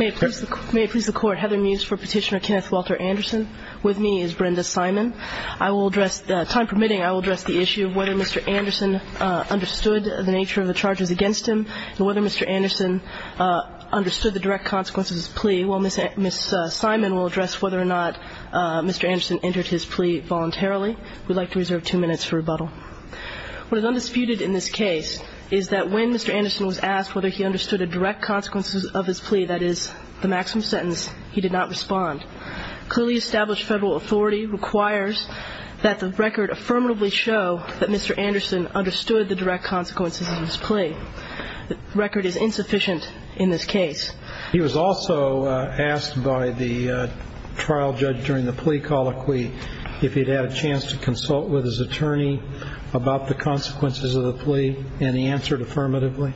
May it please the Court, Heather Muse for Petitioner Kenneth Walter Anderson. With me is Brenda Simon. I will address, time permitting, I will address the issue of whether Mr. Anderson understood the nature of the charges against him, and whether Mr. Anderson understood the direct consequences of his plea. While Ms. Simon will address whether or not Mr. Anderson entered his plea voluntarily, we'd like to reserve two minutes for rebuttal. What is undisputed in this case is that when Mr. Anderson was asked whether he understood the direct consequences of his plea, that is, the maximum sentence, he did not respond. Clearly established federal authority requires that the record affirmatively show that Mr. Anderson understood the direct consequences of his plea. The record is insufficient in this case. He was also asked by the trial judge during the plea colloquy if he'd had a chance to consult with his attorney about the consequences of the plea, and he answered affirmatively.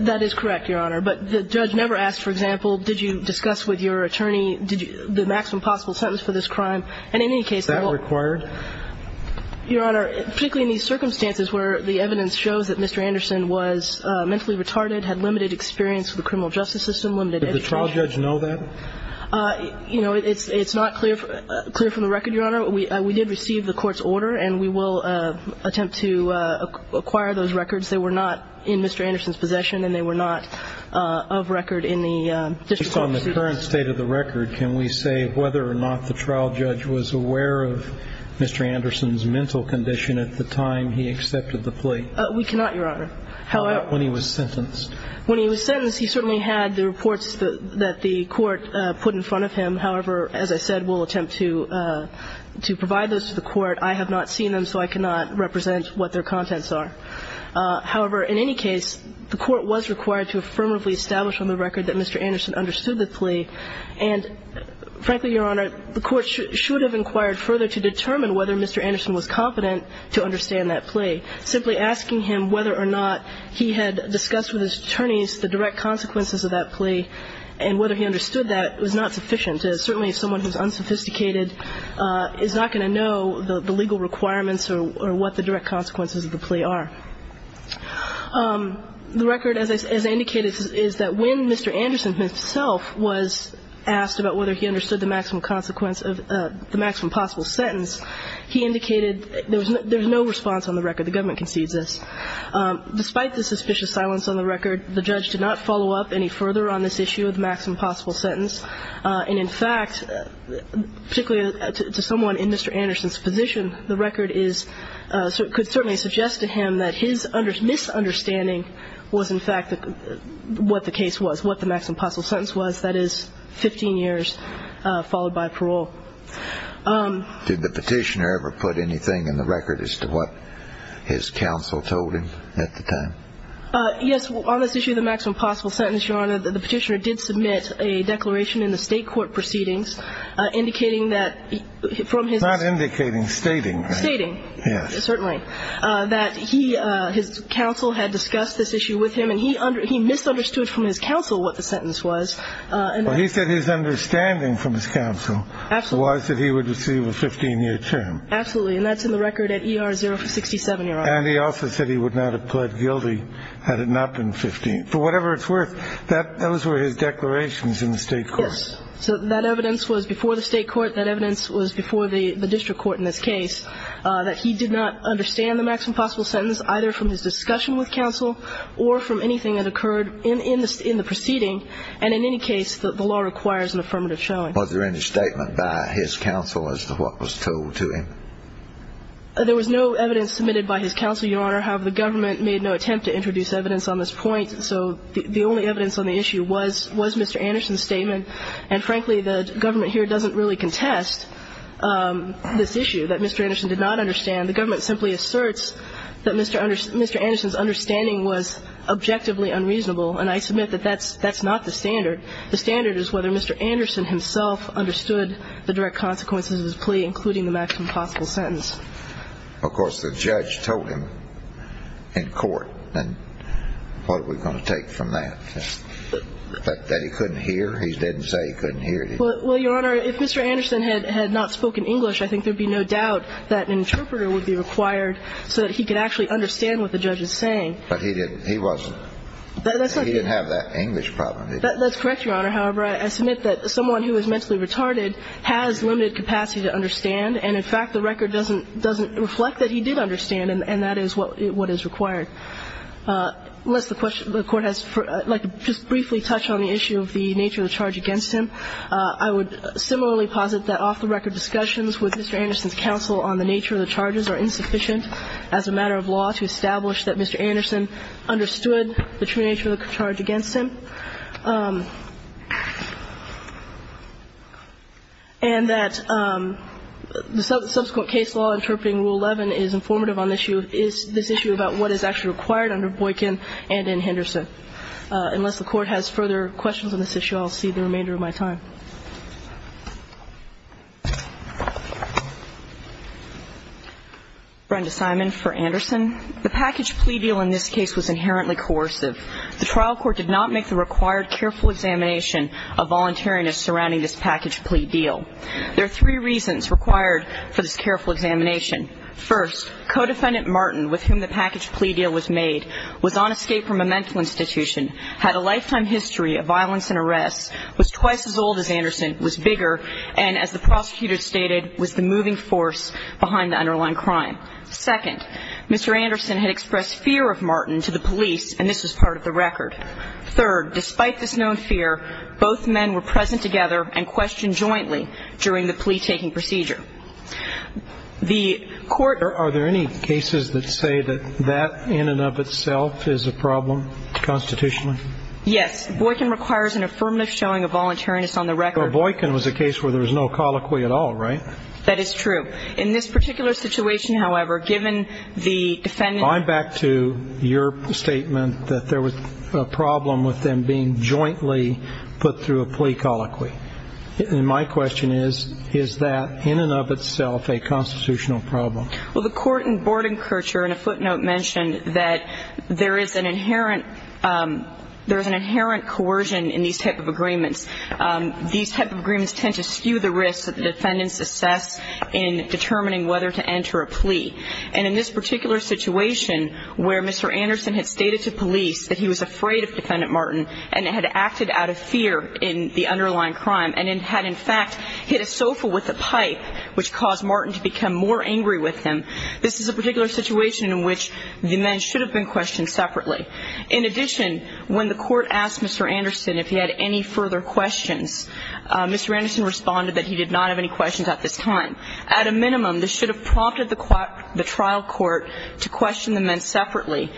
That is correct, Your Honor. But the judge never asked, for example, did you discuss with your attorney the maximum possible sentence for this crime? And in any case, they won't. Is that required? Your Honor, particularly in these circumstances where the evidence shows that Mr. Anderson was mentally retarded, had limited experience with the criminal justice system, limited education. Did the trial judge know that? You know, it's not clear from the record, Your Honor. We did receive the court's order, and we will attempt to acquire those records. They were not in Mr. Anderson's possession, and they were not of record in the district court. Based on the current state of the record, can we say whether or not the trial judge was aware of Mr. Anderson's mental condition at the time he accepted the plea? We cannot, Your Honor. How about when he was sentenced? When he was sentenced, he certainly had the reports that the court put in front of him. However, as I said, we'll attempt to provide those to the court. I have not seen them, so I cannot represent what their contents are. However, in any case, the court was required to affirmatively establish on the record that Mr. Anderson understood the plea. And frankly, Your Honor, the court should have inquired further to determine whether Mr. Anderson was competent to understand that plea. Simply asking him whether or not he had discussed with his attorneys the direct consequences of that plea and whether he understood that was not sufficient. Certainly someone who is unsophisticated is not going to know the legal requirements or what the direct consequences of the plea are. The record, as I indicated, is that when Mr. Anderson himself was asked about whether he understood the maximum consequence of the maximum possible sentence, he indicated there was no response on the record. The government concedes this. Despite the suspicious silence on the record, the judge did not follow up any further on this issue of the maximum possible sentence. And in fact, particularly to someone in Mr. Anderson's position, the record could certainly suggest to him that his misunderstanding was, in fact, what the case was, what the maximum possible sentence was. That is 15 years followed by parole. Did the petitioner ever put anything in the record as to what his counsel told him at the time? Yes. On this issue of the maximum possible sentence, Your Honor, the petitioner did submit a declaration in the state court proceedings indicating that from his It's not indicating, stating. Stating. Yes. Certainly. That he, his counsel had discussed this issue with him, and he misunderstood from his counsel what the sentence was. Well, he said his understanding from his counsel was that he would receive a 15-year term. Absolutely. And that's in the record at E.R. 0 for 67, Your Honor. And he also said he would not have pled guilty had it not been 15. For whatever it's worth, those were his declarations in the state court. Yes. So that evidence was before the state court. That evidence was before the district court in this case, that he did not understand the maximum possible sentence either from his discussion with counsel or from anything that occurred in the proceeding. And in any case, the law requires an affirmative showing. Was there any statement by his counsel as to what was told to him? There was no evidence submitted by his counsel, Your Honor. However, the government made no attempt to introduce evidence on this point. So the only evidence on the issue was Mr. Anderson's statement. And, frankly, the government here doesn't really contest this issue that Mr. Anderson did not understand. The government simply asserts that Mr. Anderson's understanding was objectively unreasonable. And I submit that that's not the standard. The standard is whether Mr. Anderson himself understood the direct consequences of his plea, including the maximum possible sentence. Of course, the judge told him in court. And what are we going to take from that? That he couldn't hear? He didn't say he couldn't hear. Well, Your Honor, if Mr. Anderson had not spoken English, I think there would be no doubt that an interpreter would be required so that he could actually understand what the judge is saying. But he didn't. He wasn't. He didn't have that English problem. That's correct, Your Honor. However, I submit that someone who is mentally retarded has limited capacity to understand. And, in fact, the record doesn't reflect that he did understand. And that is what is required. Unless the Court has to just briefly touch on the issue of the nature of the charge against him, I would similarly posit that off-the-record discussions with Mr. Anderson's counsel on the nature of the charges are insufficient as a matter of law to establish that Mr. Anderson understood the true nature of the charge against him. And that the subsequent case law interpreting Rule 11 is informative on this issue, is this issue about what is actually required under Boykin and in Henderson. Unless the Court has further questions on this issue, I'll cede the remainder of my time. Brenda Simon for Anderson. The package plea deal in this case was inherently coercive. The trial court did not make the required careful examination of voluntariness surrounding this package plea deal. There are three reasons required for this careful examination. First, co-defendant Martin, with whom the package plea deal was made, was on escape from a mental institution, had a lifetime history of violence and arrests, was twice as old as Anderson, was bigger, and, as the prosecutor stated, was the moving force behind the underlying crime. Second, Mr. Anderson had expressed fear of Martin to the police, and this was part of the record. Third, despite this known fear, both men were present together and questioned jointly during the plea-taking procedure. Are there any cases that say that that in and of itself is a problem constitutionally? Yes. Boykin requires an affirmative showing of voluntariness on the record. Boykin was a case where there was no colloquy at all, right? That is true. In this particular situation, however, given the defendant ---- I'm back to your statement that there was a problem with them being jointly put through a plea colloquy. And my question is, is that in and of itself a constitutional problem? Well, the court in Bordenkircher in a footnote mentioned that there is an inherent coercion in these type of agreements. These type of agreements tend to skew the risks that the defendants assess in determining whether to enter a plea. And in this particular situation, where Mr. Anderson had stated to police that he was afraid of defendant Martin and had acted out of fear in the underlying crime and had in fact hit a sofa with a pipe, which caused Martin to become more angry with him, this is a particular situation in which the men should have been questioned separately. In addition, when the court asked Mr. Anderson if he had any further questions, Mr. Anderson responded that he did not have any questions at this time. At a minimum, this should have prompted the trial court to question the men separately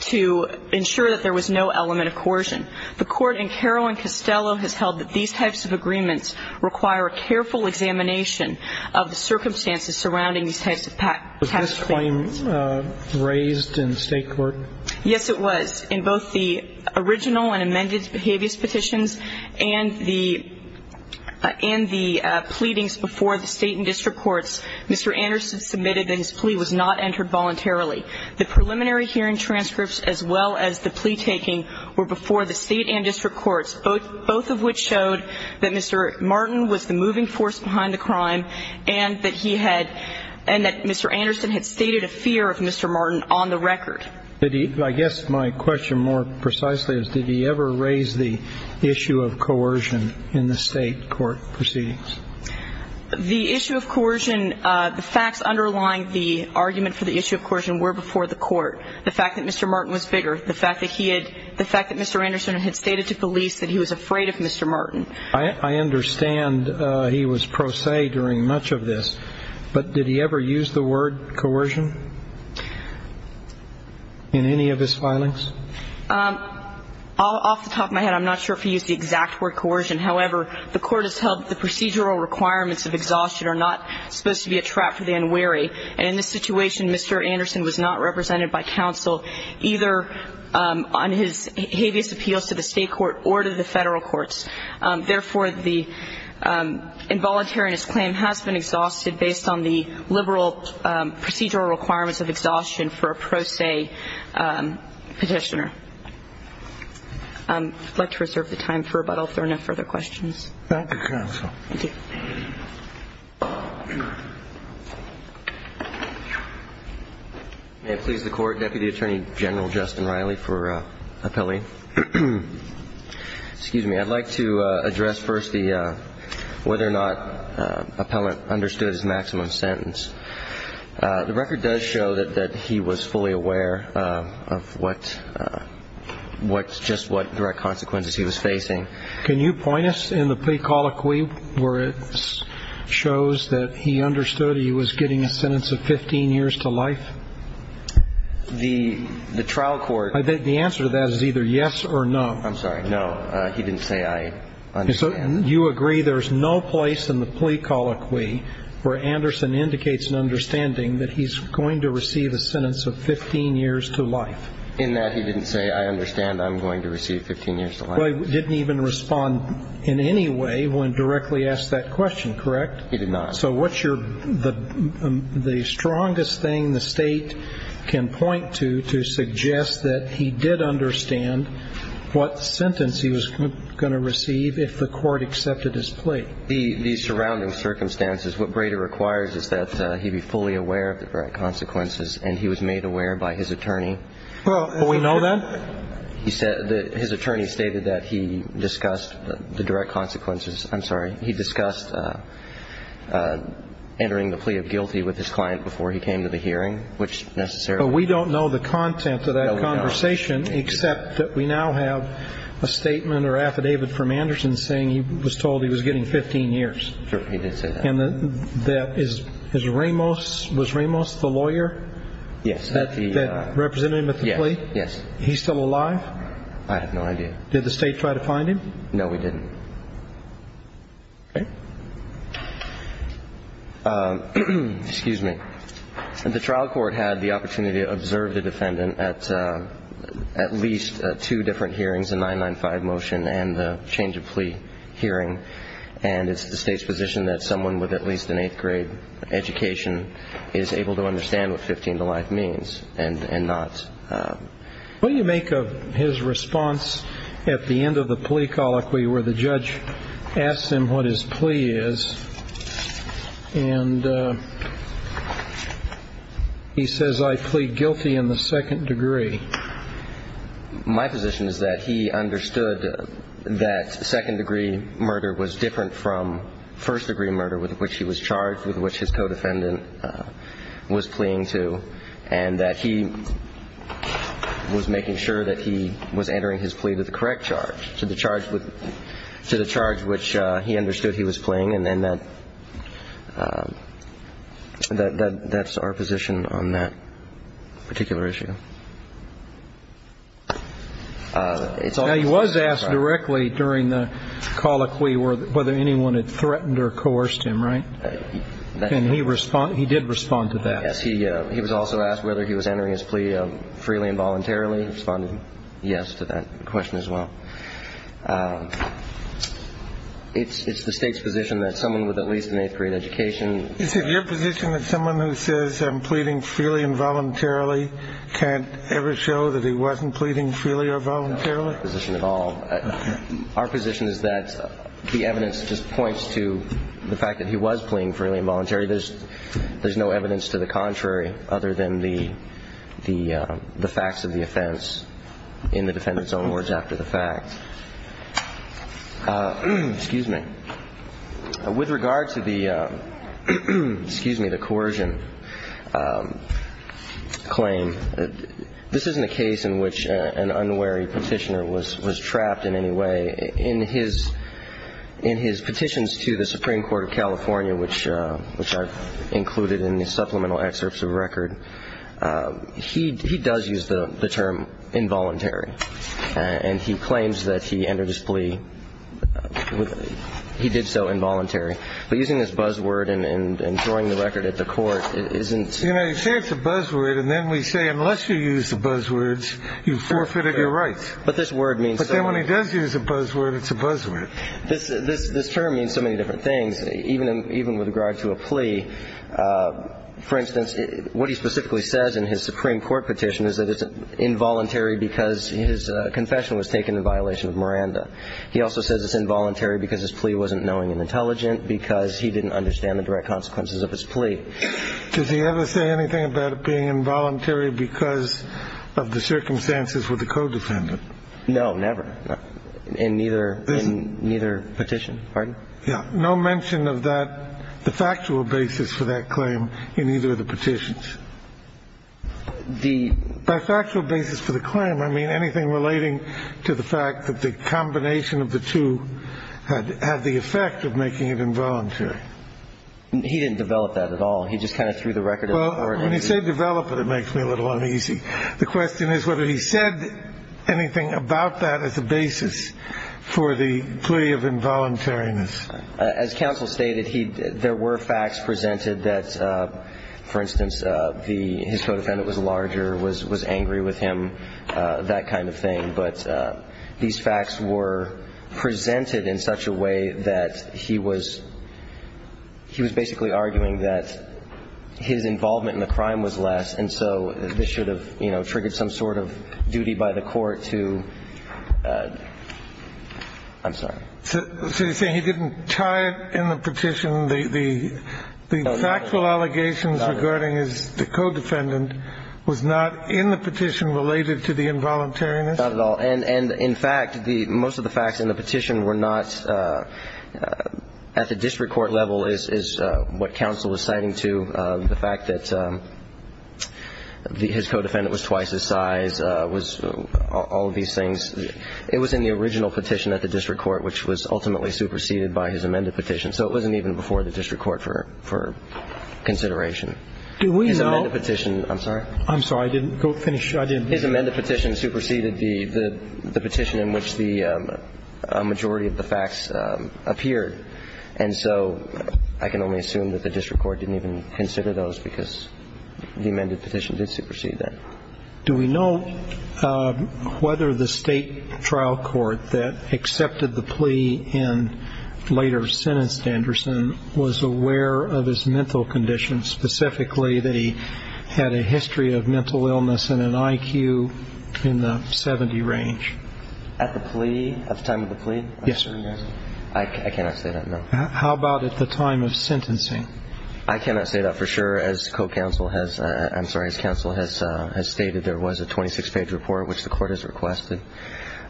to ensure that there was no element of coercion. The court in Carroll and Costello has held that these types of agreements require a careful examination of the circumstances surrounding these types of tax claims. Was this claim raised in state court? Yes, it was. In both the original and amended behaviorist petitions and the pleadings before the state and district courts, Mr. Anderson submitted that his plea was not entered voluntarily. The preliminary hearing transcripts as well as the plea taking were before the state and district courts, both of which showed that Mr. Martin was the moving force behind the crime and that he had – and that Mr. Anderson had stated a fear of Mr. Martin on the record. I guess my question more precisely is, did he ever raise the issue of coercion in the state court proceedings? The issue of coercion – the facts underlying the argument for the issue of coercion were before the court. The fact that Mr. Martin was bigger, the fact that he had – the fact that Mr. Anderson had stated to police that he was afraid of Mr. Martin. I understand he was pro se during much of this, but did he ever use the word coercion in any of his filings? Off the top of my head, I'm not sure if he used the exact word coercion. However, the court has held that the procedural requirements of exhaustion are not supposed to be a trap for the unwary. And in this situation, Mr. Anderson was not represented by counsel, either on his habeas appeals to the state court or to the federal courts. Therefore, the involuntariness claim has been exhausted based on the liberal procedural requirements of exhaustion for a pro se petitioner. I'd like to reserve the time for rebuttal if there are no further questions. Thank you, counsel. Thank you. May it please the court, Deputy Attorney General Justin Riley for appellee. Excuse me. I'd like to address first the – whether or not appellant understood his maximum sentence. The record does show that he was fully aware of what – just what direct consequences he was facing. Can you point us in the plea colloquy where it shows that he understood he was getting a sentence of 15 years to life? The trial court – The answer to that is either yes or no. I'm sorry. No, he didn't say I understand. So you agree there's no place in the plea colloquy where Anderson indicates an understanding that he's going to receive a sentence of 15 years to life? In that he didn't say I understand I'm going to receive 15 years to life. Well, he didn't even respond in any way when directly asked that question, correct? He did not. So what's your – the strongest thing the State can point to to suggest that he did understand what sentence he was going to receive if the court accepted his plea? The surrounding circumstances. What Brader requires is that he be fully aware of the direct consequences, and he was made aware by his attorney. Well, we know that? His attorney stated that he discussed the direct consequences. I'm sorry. He discussed entering the plea of guilty with his client before he came to the hearing, which necessarily – But we don't know the content of that conversation except that we now have a statement or affidavit from Anderson saying he was told he was getting 15 years. Sure. He did say that. And that is – is Ramos – was Ramos the lawyer? Yes. That represented him at the plea? Yes. He's still alive? I have no idea. Did the State try to find him? No, we didn't. Okay. Excuse me. The trial court had the opportunity to observe the defendant at at least two different hearings, the 995 motion and the change of plea hearing, and it's the State's position that someone with at least an eighth-grade education is able to understand what 15 to life means and not – Will you make his response at the end of the plea colloquy where the judge asks him what his plea is, and he says, I plead guilty in the second degree? My position is that he understood that second-degree murder was different from first-degree murder with which he was charged, with which his co-defendant was pleading to, and that he was making sure that he was entering his plea to the correct charge, to the charge which he understood he was pleading, and that's our position on that particular issue. Now, he was asked directly during the colloquy whether anyone had threatened or coerced him, right? And he did respond to that? Yes, he was also asked whether he was entering his plea freely and voluntarily. He responded yes to that question as well. It's the State's position that someone with at least an eighth-grade education – Is it your position that someone who says, I'm pleading freely and voluntarily, can't ever show that he wasn't pleading freely or voluntarily? That's not our position at all. Our position is that the evidence just points to the fact that he was pleading freely and voluntarily. There's no evidence to the contrary other than the facts of the offense in the defendant's own words after the fact. Excuse me. With regard to the – excuse me – the coercion claim, this isn't a case in which an unwary petitioner was trapped in any way. In his petitions to the Supreme Court of California, which I've included in the supplemental excerpts of the record, he does use the term involuntary. And he claims that he entered his plea – he did so involuntarily. But using this buzzword and throwing the record at the court isn't – You know, you say it's a buzzword, and then we say, unless you use the buzzwords, you've forfeited your rights. But this word means – You say when he does use a buzzword, it's a buzzword. This term means so many different things, even with regard to a plea. For instance, what he specifically says in his Supreme Court petition is that it's involuntary because his confession was taken in violation of Miranda. He also says it's involuntary because his plea wasn't knowing and intelligent, because he didn't understand the direct consequences of his plea. Does he ever say anything about it being involuntary because of the circumstances with the co-defendant? No, never. In neither – in neither petition. Pardon? Yeah. No mention of that – the factual basis for that claim in either of the petitions. The – By factual basis for the claim, I mean anything relating to the fact that the combination of the two had the effect of making it involuntary. He didn't develop that at all. He just kind of threw the record at the court. Well, when you say develop it, it makes me a little uneasy. The question is whether he said anything about that as a basis for the plea of involuntariness. As counsel stated, he – there were facts presented that, for instance, the – his co-defendant was larger, was angry with him, that kind of thing. But these facts were presented in such a way that he was – he was basically arguing that his involvement in the crime was less, and so this should have, you know, triggered some sort of duty by the court to – I'm sorry. So you're saying he didn't tie it in the petition? The – the factual allegations regarding his – the co-defendant was not in the petition related to the involuntariness? Not at all. And in fact, the – most of the facts in the petition were not – at the district court level is what counsel is citing to, the fact that his co-defendant was twice his size, was – all of these things. It was in the original petition at the district court, which was ultimately superseded by his amended petition. So it wasn't even before the district court for consideration. Do we know – His amended petition – I'm sorry? I'm sorry. I didn't finish. His amended petition superseded the petition in which the majority of the facts appeared. And so I can only assume that the district court didn't even consider those because the amended petition did supersede that. Do we know whether the state trial court that accepted the plea and later sentenced Anderson was aware of his mental condition, specifically that he had a history of mental illness and an IQ in the 70 range? At the plea – at the time of the plea? Yes, sir. I cannot say that, no. How about at the time of sentencing? I cannot say that for sure. As co-counsel has – I'm sorry, as counsel has stated, there was a 26-page report which the court has requested.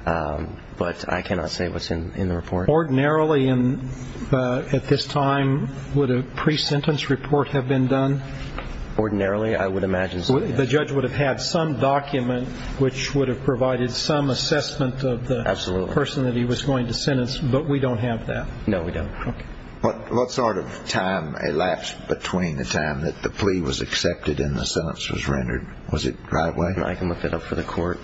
But I cannot say what's in the report. Ordinarily, at this time, would a pre-sentence report have been done? Ordinarily, I would imagine so, yes. The judge would have had some document which would have provided some assessment of the person that he was going to sentence, but we don't have that. No, we don't. Okay. What sort of time elapsed between the time that the plea was accepted and the sentence was rendered? I can look that up for the court.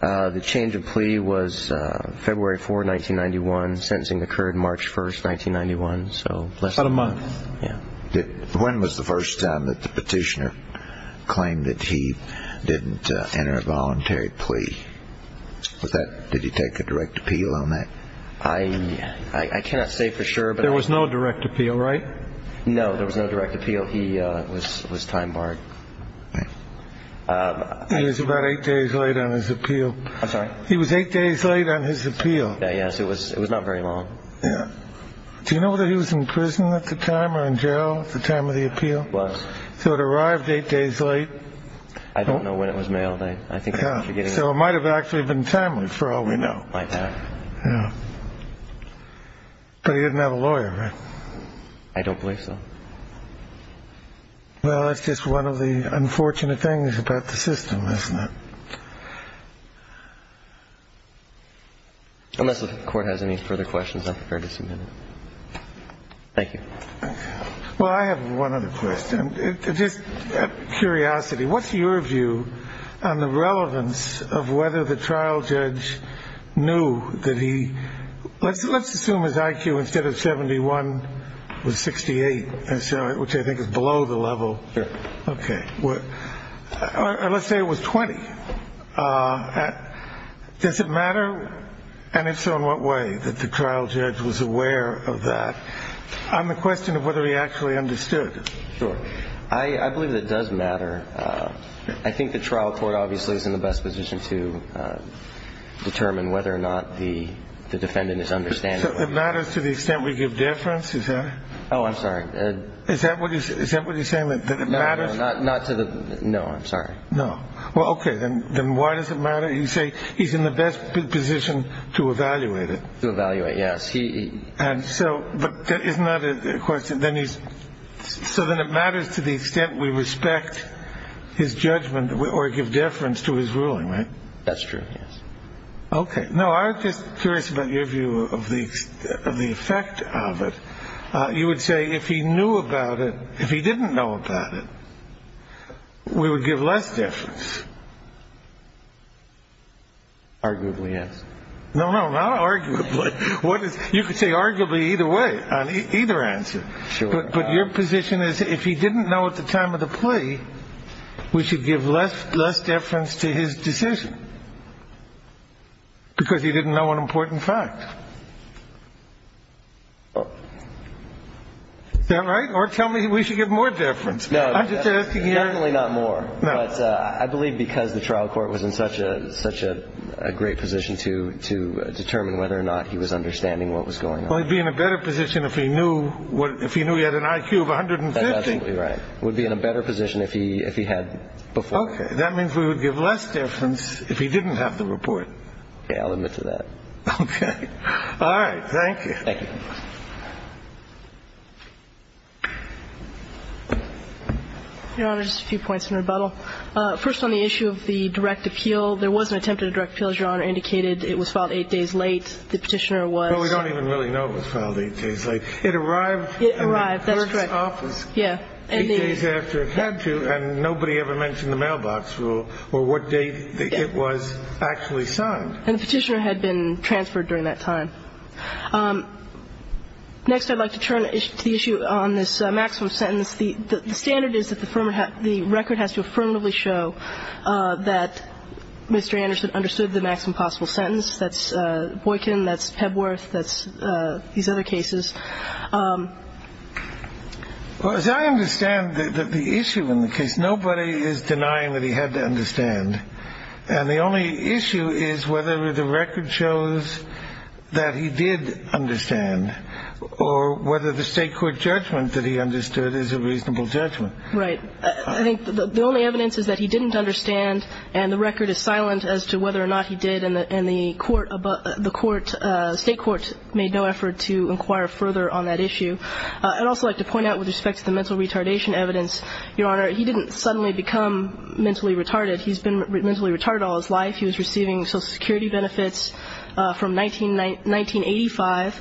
The change of plea was February 4, 1991. Sentencing occurred March 1, 1991, so less than a month. About a month. When was the first time that the petitioner claimed that he didn't enter a voluntary plea? Did he take a direct appeal on that? I cannot say for sure. There was no direct appeal, right? No, there was no direct appeal. He was time barred. He was about eight days late on his appeal. I'm sorry? He was eight days late on his appeal. Yes, it was not very long. Do you know whether he was in prison at the time or in jail at the time of the appeal? He was. So it arrived eight days late. I don't know when it was mailed. So it might have actually been timely for all we know. Might have. But he didn't have a lawyer, right? I don't believe so. Well, that's just one of the unfortunate things about the system, isn't it? Unless the court has any further questions, I'm prepared to submit it. Thank you. Well, I have one other question. Just out of curiosity, what's your view on the relevance of whether the trial judge knew that he – which I think is below the level. Sure. Okay. Let's say it was 20. Does it matter? And if so, in what way that the trial judge was aware of that? On the question of whether he actually understood. Sure. I believe that it does matter. I think the trial court obviously is in the best position to determine whether or not the defendant is understanding. So it matters to the extent we give difference, is that it? Oh, I'm sorry. Is that what you're saying, that it matters? No, not to the – no, I'm sorry. No. Well, okay, then why does it matter? You say he's in the best position to evaluate it. To evaluate, yes. And so – but that is not a question. Then he's – so then it matters to the extent we respect his judgment or give difference to his ruling, right? That's true, yes. Okay. No, I'm just curious about your view of the effect of it. You would say if he knew about it – if he didn't know about it, we would give less difference. Arguably, yes. No, no, not arguably. What is – you could say arguably either way, on either answer. Sure. But your position is if he didn't know at the time of the plea, we should give less difference to his decision because he didn't know an important fact. Is that right? Or tell me we should give more difference. No, definitely not more. No. But I believe because the trial court was in such a great position to determine whether or not he was understanding what was going on. Well, he'd be in a better position if he knew he had an IQ of 150. That's absolutely right. He would be in a better position if he had before. Okay. That means we would give less difference if he didn't have the report. Yeah, I'll admit to that. Okay. All right. Thank you. Thank you. Your Honor, just a few points in rebuttal. First on the issue of the direct appeal, there was an attempt at a direct appeal, as Your Honor indicated. It was filed eight days late. The petitioner was – Well, we don't even really know it was filed eight days late. It arrived – It arrived. That's correct. Eight days after it had to, and nobody ever mentioned the mailbox rule or what date it was actually signed. And the petitioner had been transferred during that time. Next, I'd like to turn to the issue on this maximum sentence. The standard is that the record has to affirmatively show that Mr. Anderson understood the maximum possible sentence. That's Boykin, that's Pebworth, that's these other cases. Well, as I understand the issue in the case, nobody is denying that he had to understand. And the only issue is whether the record shows that he did understand or whether the state court judgment that he understood is a reasonable judgment. Right. I think the only evidence is that he didn't understand, and the record is silent as to whether or not he did, and the court – the state court made no effort to inquire further on that issue. I'd also like to point out with respect to the mental retardation evidence, Your Honor, he didn't suddenly become mentally retarded. He's been mentally retarded all his life. He was receiving Social Security benefits from 1985,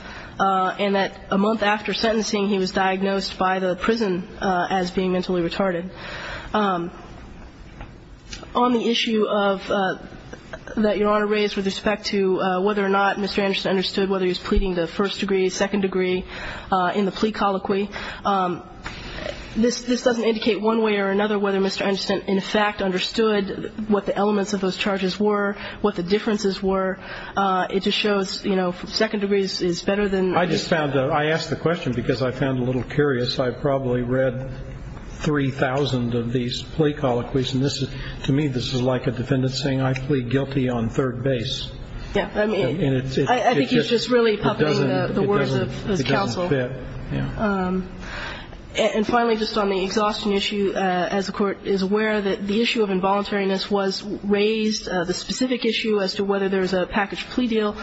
and that a month after sentencing he was diagnosed by the prison as being mentally retarded. On the issue of – that Your Honor raised with respect to whether or not Mr. Anderson understood, whether he was pleading the first degree, second degree in the plea colloquy, this doesn't indicate one way or another whether Mr. Anderson, in fact, understood what the elements of those charges were, what the differences were. It just shows, you know, second degree is better than first degree. I just found – I asked the question because I found it a little curious. I've probably read 3,000 of these plea colloquies, and to me this is like a defendant saying I plead guilty on third base. Yeah. I think he's just really puppeting the words of counsel. It doesn't fit. Yeah. And finally, just on the exhaustion issue, as the court is aware that the issue of involuntariness was raised, the specific issue as to whether there's a package plea deal,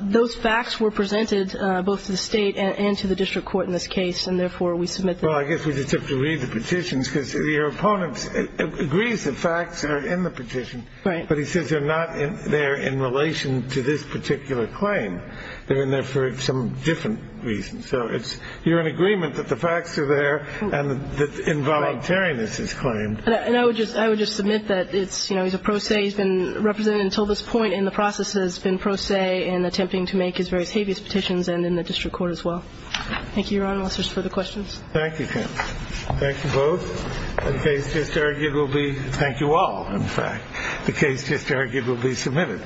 those facts were presented both to the state and to the district court in this case, and therefore we submit that. Well, I guess we just have to read the petitions because your opponent agrees the facts are in the petition. Right. But he says they're not there in relation to this particular claim. They're in there for some different reasons. So it's – you're in agreement that the facts are there and that involuntariness is claimed. And I would just – I would just submit that it's, you know, he's a pro se. He's been represented until this point, and the process has been pro se in attempting to make his various habeas petitions and in the district court as well. Thank you, Your Honor. Unless there's further questions. Thank you. Thank you both. The case just arguably – thank you all, in fact. The case just arguably submitted.